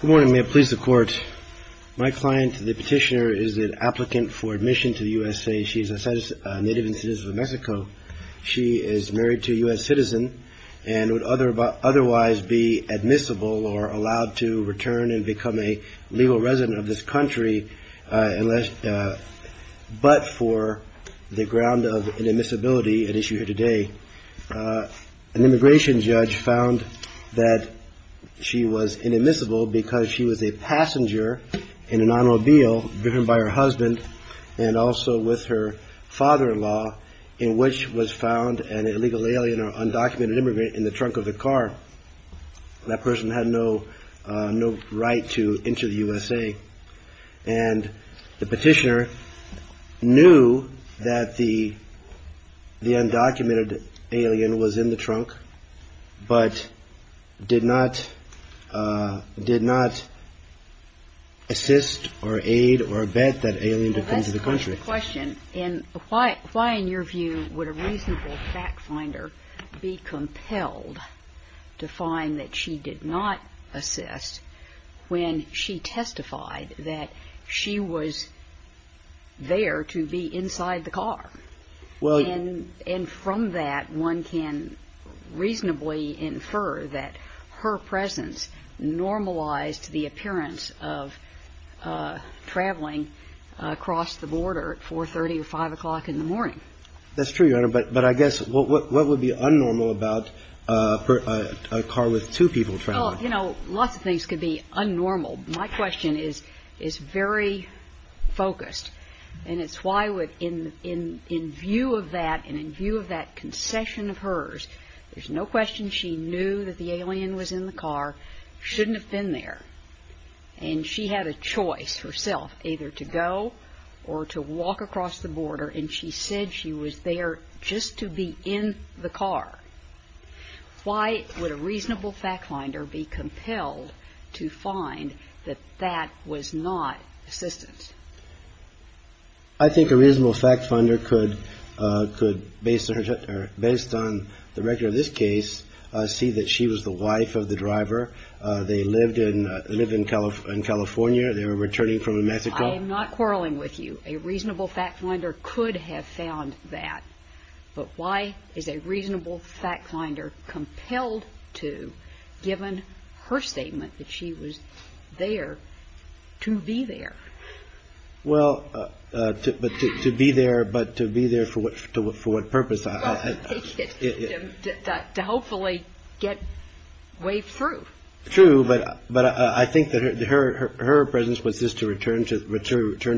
Good morning. May it please the Court. My client, the petitioner, is an applicant for admission to the USA. She is a native and citizen of Mexico. She is married to a U.S. citizen and would otherwise be admissible or allowed to return and become a legal resident of this country but for the ground of an admissibility at issue here today. An immigration judge found that she was inadmissible because she was a passenger in an automobile driven by her husband and also with her father-in-law in which was found an illegal alien or undocumented immigrant in the trunk of the car. That person had no right to enter the USA. And the petitioner knew that the undocumented alien was in the trunk but did not assist or aid or vet that alien to come to the country. JUDGE LAKE That's the question. Why in your view would a reasonable fact finder be compelled to find that she did not assist when she testified that she was there to be inside the car? And from that, one can reasonably infer that her presence normalized the appearance of traveling across the border at 4.30 or 5 o'clock in the morning. That's true, Your Honor. But I guess what would be unnormal about a car with two people traveling? MS. COLEMAN Well, you know, lots of things could be unnormal. My question is very focused. And it's why in view of that and in view of that concession of hers, there's no question she knew that the alien was in the car, shouldn't have been there, and she had a choice herself, either to go or to walk across the border. And she said she was there just to be in the car. Why would a reasonable fact finder be compelled to find that that was not assistance? JUDGE LEBEN I think a reasonable fact finder could, based on the record of this case, see that she was the wife of the driver. They lived in California. They were returning MS. COLEMAN I am not quarreling with you. A reasonable fact finder could have found that. But why is a reasonable fact finder compelled to, given her statement that she was there, to be there? JUDGE LEBEN Well, to be there, but to be there for what purpose? MS. COLEMAN To hopefully get waved through. JUDGE LEBEN True, but I think that her presence was just to return to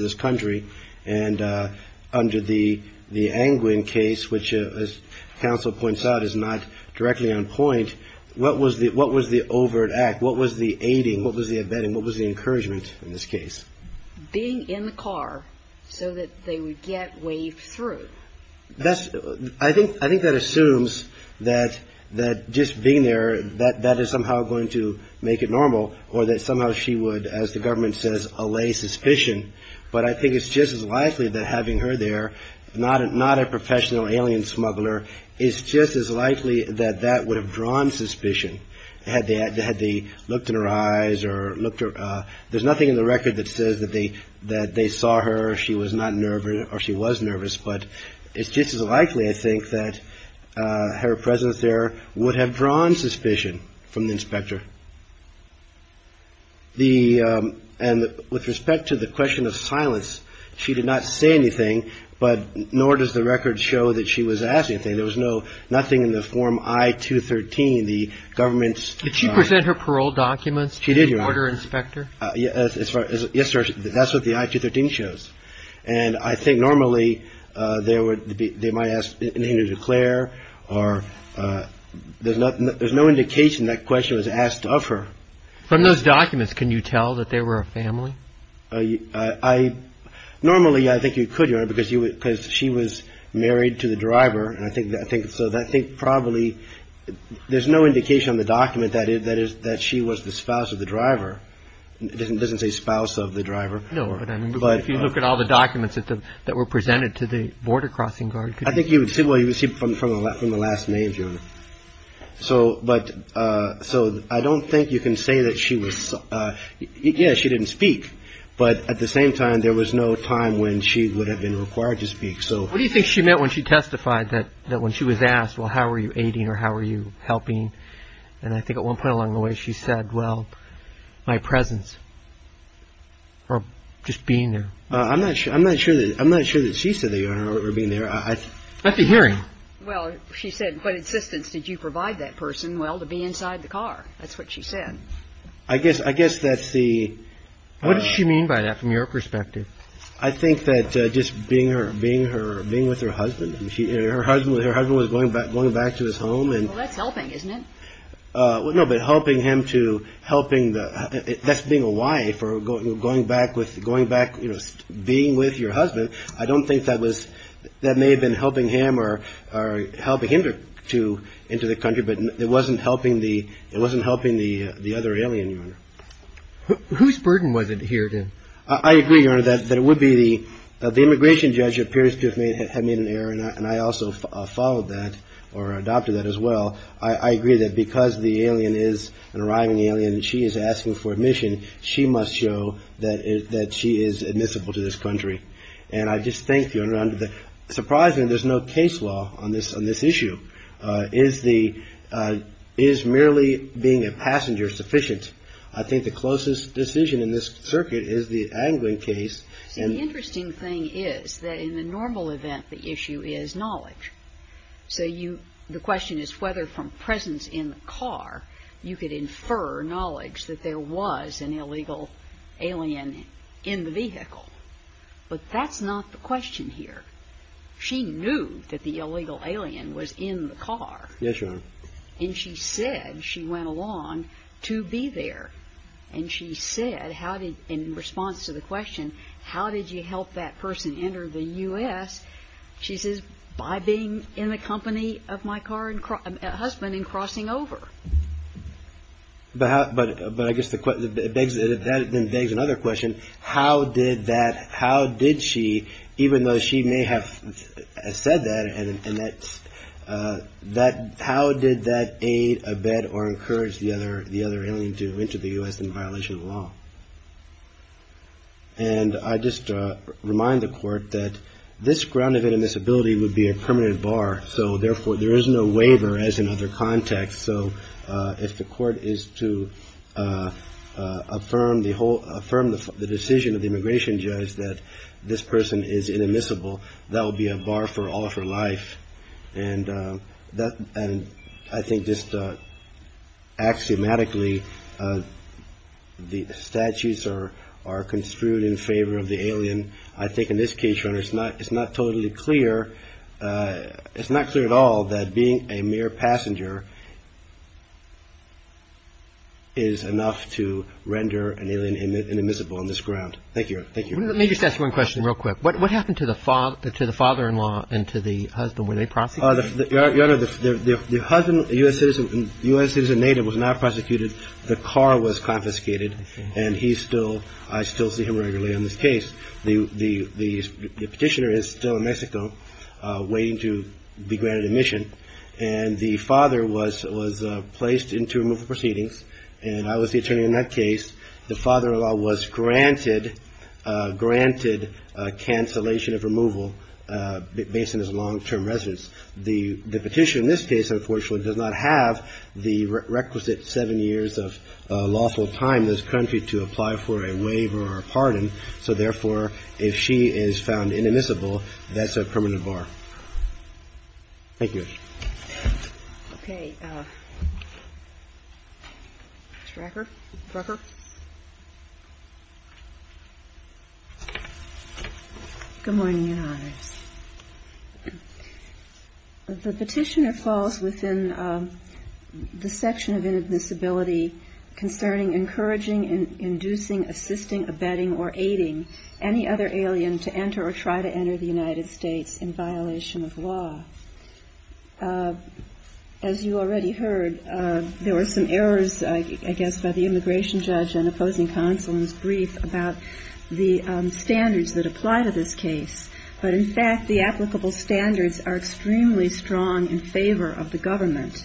this country. And under the Angwin case, which as counsel points out is not directly on point, what was the overt act? What was the aiding? What was the abetting? What was the encouragement in this case? MS. COLEMAN Being in the car so that they would get waved through. JUDGE LEBEN I think that assumes that just being there, that is somehow going to make it normal or that somehow she would, as the government says, allay suspicion. But I think it's just as likely that having her there, not a professional alien smuggler, is just as likely that that would have drawn suspicion had they looked in her eyes or looked at her. There's nothing in the record that says that they saw her, she was not nervous or she was nervous. But it's just as likely, I think, that her presence there would have drawn suspicion from the inspector. And with respect to the question of silence, she did not say anything, nor does the record show that she was asked anything. There was nothing in the form I-213, the government's JUDGE LEBEN Did she present her parole documents to the border inspector? MS. COLEMAN Yes, sir. That's what the I-213 shows. And I think normally they might ask to declare or there's no indication that question was asked of her. JUDGE LEBEN From those documents, can you tell that they were a family? MS. COLEMAN Normally, I think you could, Your Honor, because she was married to the driver. And I think probably there's no indication on the document that she was the spouse of the driver. It doesn't say spouse of the driver. JUDGE LEBEN No, but if you look at all the documents that were presented to the border crossing guard. MS. COLEMAN I think you would see from the last major. So I don't think you can say that she was. Yes, she didn't speak. But at the same time, there was no time when she would have been required to speak. JUDGE LEBEN What do you think she meant when she testified that when she was asked, well, how are you aiding or how are you helping? And I think at one point along the way she said, well, my presence or just being there. MS. COLEMAN I'm not sure. I'm not sure that she said that, Your Honor, or being there. JUDGE LEBEN Let's be hearing. MS. COLEMAN Well, she said, what assistance did you provide that person? Well, to be inside the car. That's what she said. JUDGE LEBEN I guess I guess that's the. MS. COLEMAN What does she mean by that from your perspective? JUDGE LEBEN I think that just being her being her being with her husband, her husband, her husband was going back, going back to his home. MS. COLEMAN That's helping, isn't it? JUDGE LEBEN Well, no, but helping him to helping the that's being a wife or going back with going back, you know, being with your husband. I don't think that was that may have been helping him or helping him to into the country. But it wasn't helping the it wasn't helping the the other alien. MS. COLEMAN Whose burden was it here? JUDGE LEBEN I agree that it would be the the immigration judge appears to have made an error. And I also followed that or adopted that as well. I agree that because the alien is an arriving alien and she is asking for admission, she must show that that she is admissible to this country. And I just think you're under the surprise and there's no case law on this on this issue is the is merely being a passenger sufficient. I think the closest decision in this circuit is the angling case. And the interesting thing is that in the normal event, the issue is knowledge. So you the question is whether from presence in the car you could infer knowledge that there was an illegal alien in the vehicle. But that's not the question here. She knew that the illegal alien was in the car. And she said she went along to be there. And she said, how did in response to the question, how did you help that person enter the U.S.? She says, by being in the company of my car and a husband and crossing over. But but but I guess the it begs that it then begs another question. How did that how did she, even though she may have said that and that that how did that aid a bed or encourage the other the other alien to enter the U.S. in violation of law? And I just remind the court that this grounded in this ability would be a permanent bar. So therefore, there is no waiver as another context. So if the court is to affirm the whole firm, the decision of the immigration judge that this person is inadmissible, that will be a bar for all of her life. And that I think just axiomatically, the statutes are are construed in favor of the alien. I think in this case, it's not it's not totally clear. Is enough to render an alien inadmissible on this ground. Thank you. Thank you. Let me just ask one question real quick. What happened to the father to the father in law and to the husband when they prosecute the husband? The U.S. citizen was not prosecuted. The car was confiscated. And he's still I still see him regularly in this case. The petitioner is still in Mexico waiting to be granted admission. And the father was was placed into removal proceedings. And I was the attorney in that case. The father in law was granted granted cancellation of removal based on his long term residence. The petition in this case, unfortunately, does not have the requisite seven years of lawful time in this country to apply for a waiver or a pardon. So, therefore, if she is found inadmissible, that's a permanent bar. Thank you. OK. Good morning. The petitioner falls within the section of inadmissibility concerning encouraging and inducing, assisting, abetting or aiding any other alien to enter or try to enter the United States in violation of law. As you already heard, there were some errors, I guess, by the immigration judge and opposing counsel in his brief about the standards that apply to this case. But, in fact, the applicable standards are extremely strong in favor of the government.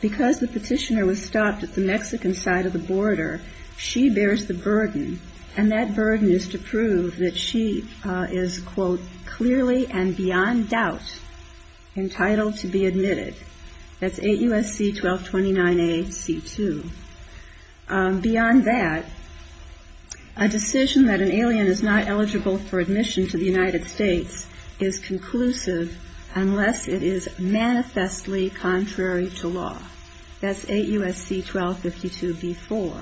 Because the petitioner was stopped at the Mexican side of the border, she bears the burden. And that burden is to prove that she is, quote, clearly and beyond doubt entitled to be admitted. That's 8 U.S.C. 1229 A.C. 2. Beyond that, a decision that an alien is not eligible for admission to the United States is conclusive unless it is manifestly contrary to law. That's 8 U.S.C. 1252 B.4.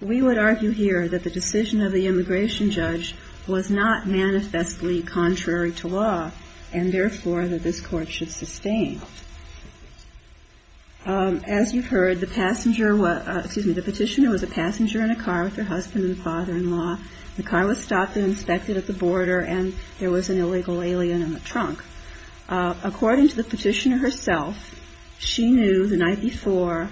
We would argue here that the decision of the immigration judge was not manifestly contrary to law, and, therefore, that this Court should sustain. As you heard, the passenger was – excuse me, the petitioner was a passenger in a car with her husband and father-in-law. The car was stopped and inspected at the border, and there was an illegal alien in the trunk. According to the petitioner herself, she knew the night before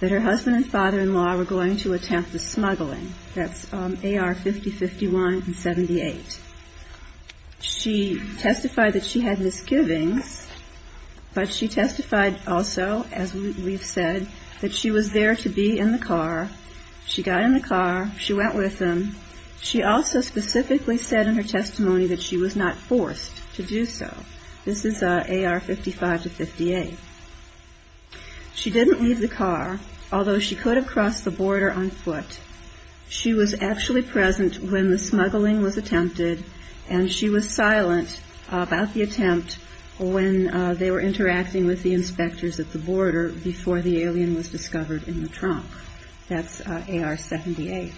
that her husband and father-in-law were going to attempt the smuggling. That's A.R. 5051 and 78. She testified that she had misgivings, but she testified also, as we've said, that she was there to be in the car. She got in the car. She went with him. She also specifically said in her testimony that she was not forced to do so. This is A.R. 55 to 58. She didn't leave the car, although she could have crossed the border on foot. She was actually present when the smuggling was attempted, and she was silent about the attempt when they were interacting with the inspectors at the border before the alien was discovered in the trunk. That's A.R. 78.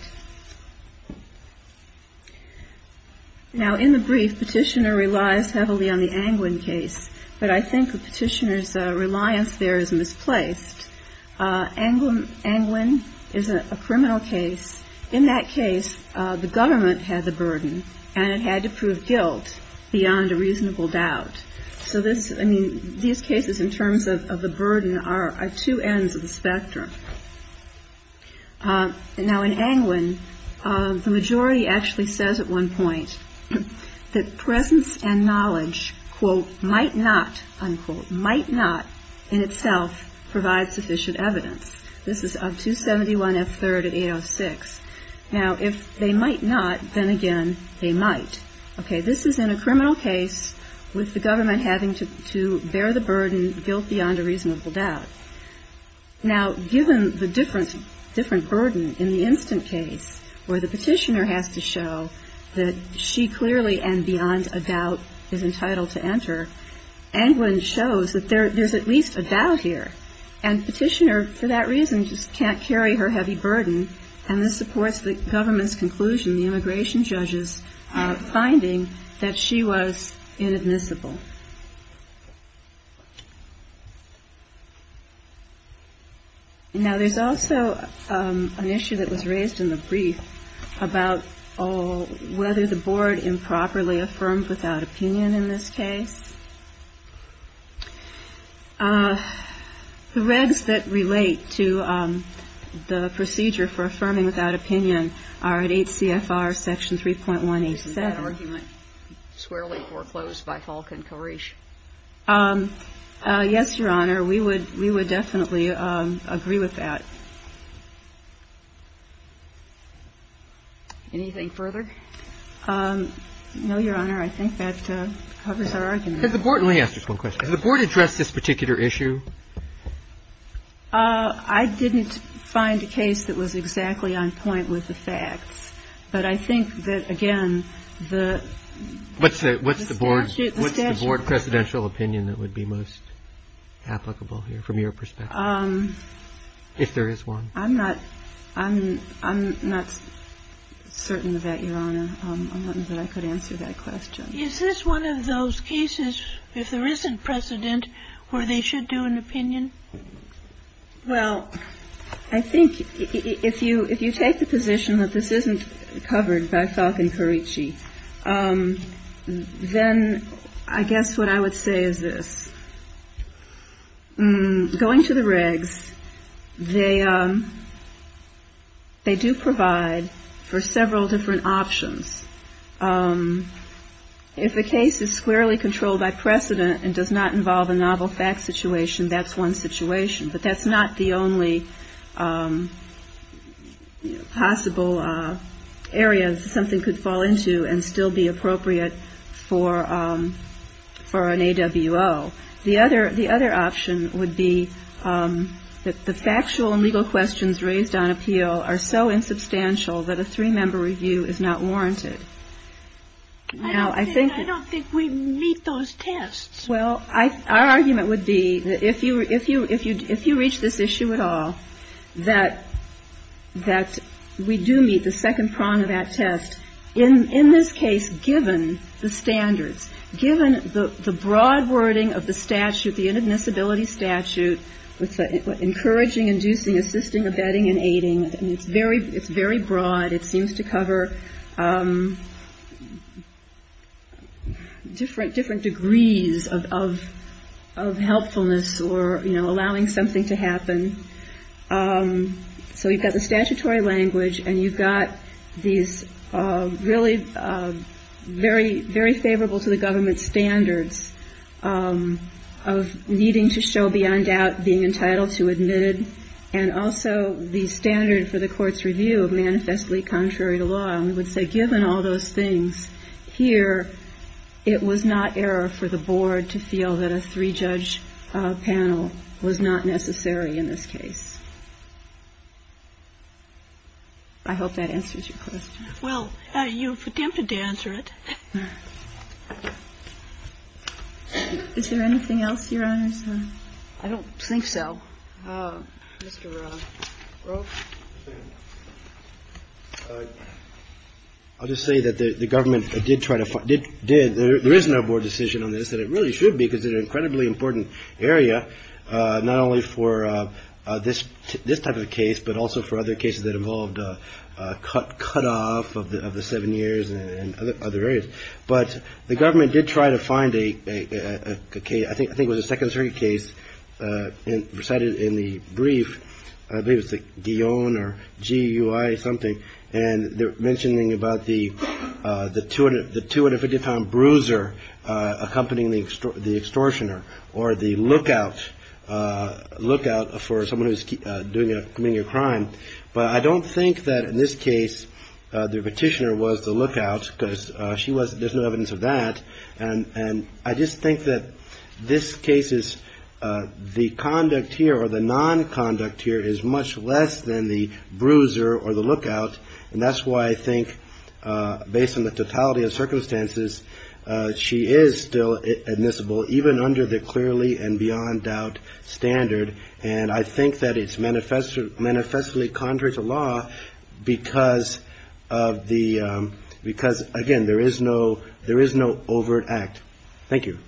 Now, in the brief, petitioner relies heavily on the Angwin case, but I think the petitioner's reliance there is misplaced. Angwin is a criminal case. In that case, the government had the burden, and it had to prove guilt beyond a reasonable doubt. So this, I mean, these cases in terms of the burden are two ends of the spectrum. Now, in Angwin, the majority actually says at one point that presence and knowledge, quote, might not, unquote, might not in sufficient evidence. This is of 271 F. 3rd at 806. Now, if they might not, then again, they might. Okay. This is in a criminal case with the government having to bear the burden, guilt beyond a reasonable doubt. Now, given the different burden in the instant case where the petitioner has to show that she clearly and beyond a doubt is entitled to enter, Angwin shows that there's at least a doubt here. And petitioner, for that reason, just can't carry her heavy burden, and this supports the government's conclusion, the immigration judge's finding, that she was inadmissible. Now, there's also an issue that was raised in the brief about whether the Board improperly affirmed without opinion in this case. The regs that relate to the procedure for affirming without opinion are at 8 CFR Section 3.187. Is that argument squarely foreclosed by Hulk and Koresh? Yes, Your Honor. We would definitely agree with that. Anything further? No, Your Honor. I think that covers our argument. Let me ask just one question. Has the Board addressed this particular issue? I didn't find a case that was exactly on point with the facts. But I think that, again, the statute of limitations. I'm not certain of that, Your Honor, that I could answer that question. Is this one of those cases, if there isn't precedent, where they should do an opinion? Well, I think if you take the position that this isn't covered by Hulk and Koresh, then I guess what I would say is this. Going to the regs, they do provide for several different options. If the case is squarely controlled by precedent and does not involve a novel fact situation, that's one situation. But that's not the only possible area something could fall into and still be appropriate for an AWO. The other option would be that the factual and legal questions raised on appeal are so insubstantial that a three-member review is not warranted. I don't think we meet those tests. Well, our argument would be that if you reach this issue at all, that we do meet the second prong of that test. In this case, given the standards, given the broad wording of the statute, the inadmissibility statute, encouraging, inducing, assisting, abetting, and aiding, it's very broad. It seems to cover different degrees of helpfulness or allowing something to happen. So you've got the statutory language and you've got these really very favorable to the government standards of needing to show beyond doubt being entitled to admit it. And also the standard for the court's review of manifestly contrary to law, we would say given all those things here, it was not error for the Board to feel that a three-judge panel was not necessary in this case. I hope that answers your question. Well, you've attempted to answer it. Is there anything else, Your Honors? I don't think so. Mr. Groff? I'll just say that the government did try to find – did – there is no Board decision on this that it really should be because it's an incredibly important area, not only for this type of case, but also for other cases that involved cutoff of the seven years and other areas. But the government did try to find a case – I think it was a Second Circuit case recited in the brief. I believe it was the Guillaume or GUI or something. And they're mentioning about the 250-pound bruiser accompanying the extortioner or the lookout for someone who's committing a crime. But I don't think that in this case the petitioner was the lookout because she was – there's no evidence of that. And I just think that this case is – the conduct here or the nonconduct here is much less than the bruiser or the lookout. And that's why I think based on the totality of circumstances, she is still admissible even under the clearly and beyond doubt standard. And I think that it's manifestly contrary to law because of the – because, again, there is no – there is no overt act. Thank you.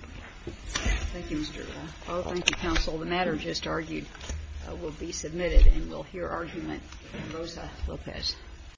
Thank you, Mr. Rao. I'll thank you, counsel. The matter just argued will be submitted and we'll hear argument from Rosa Lopez.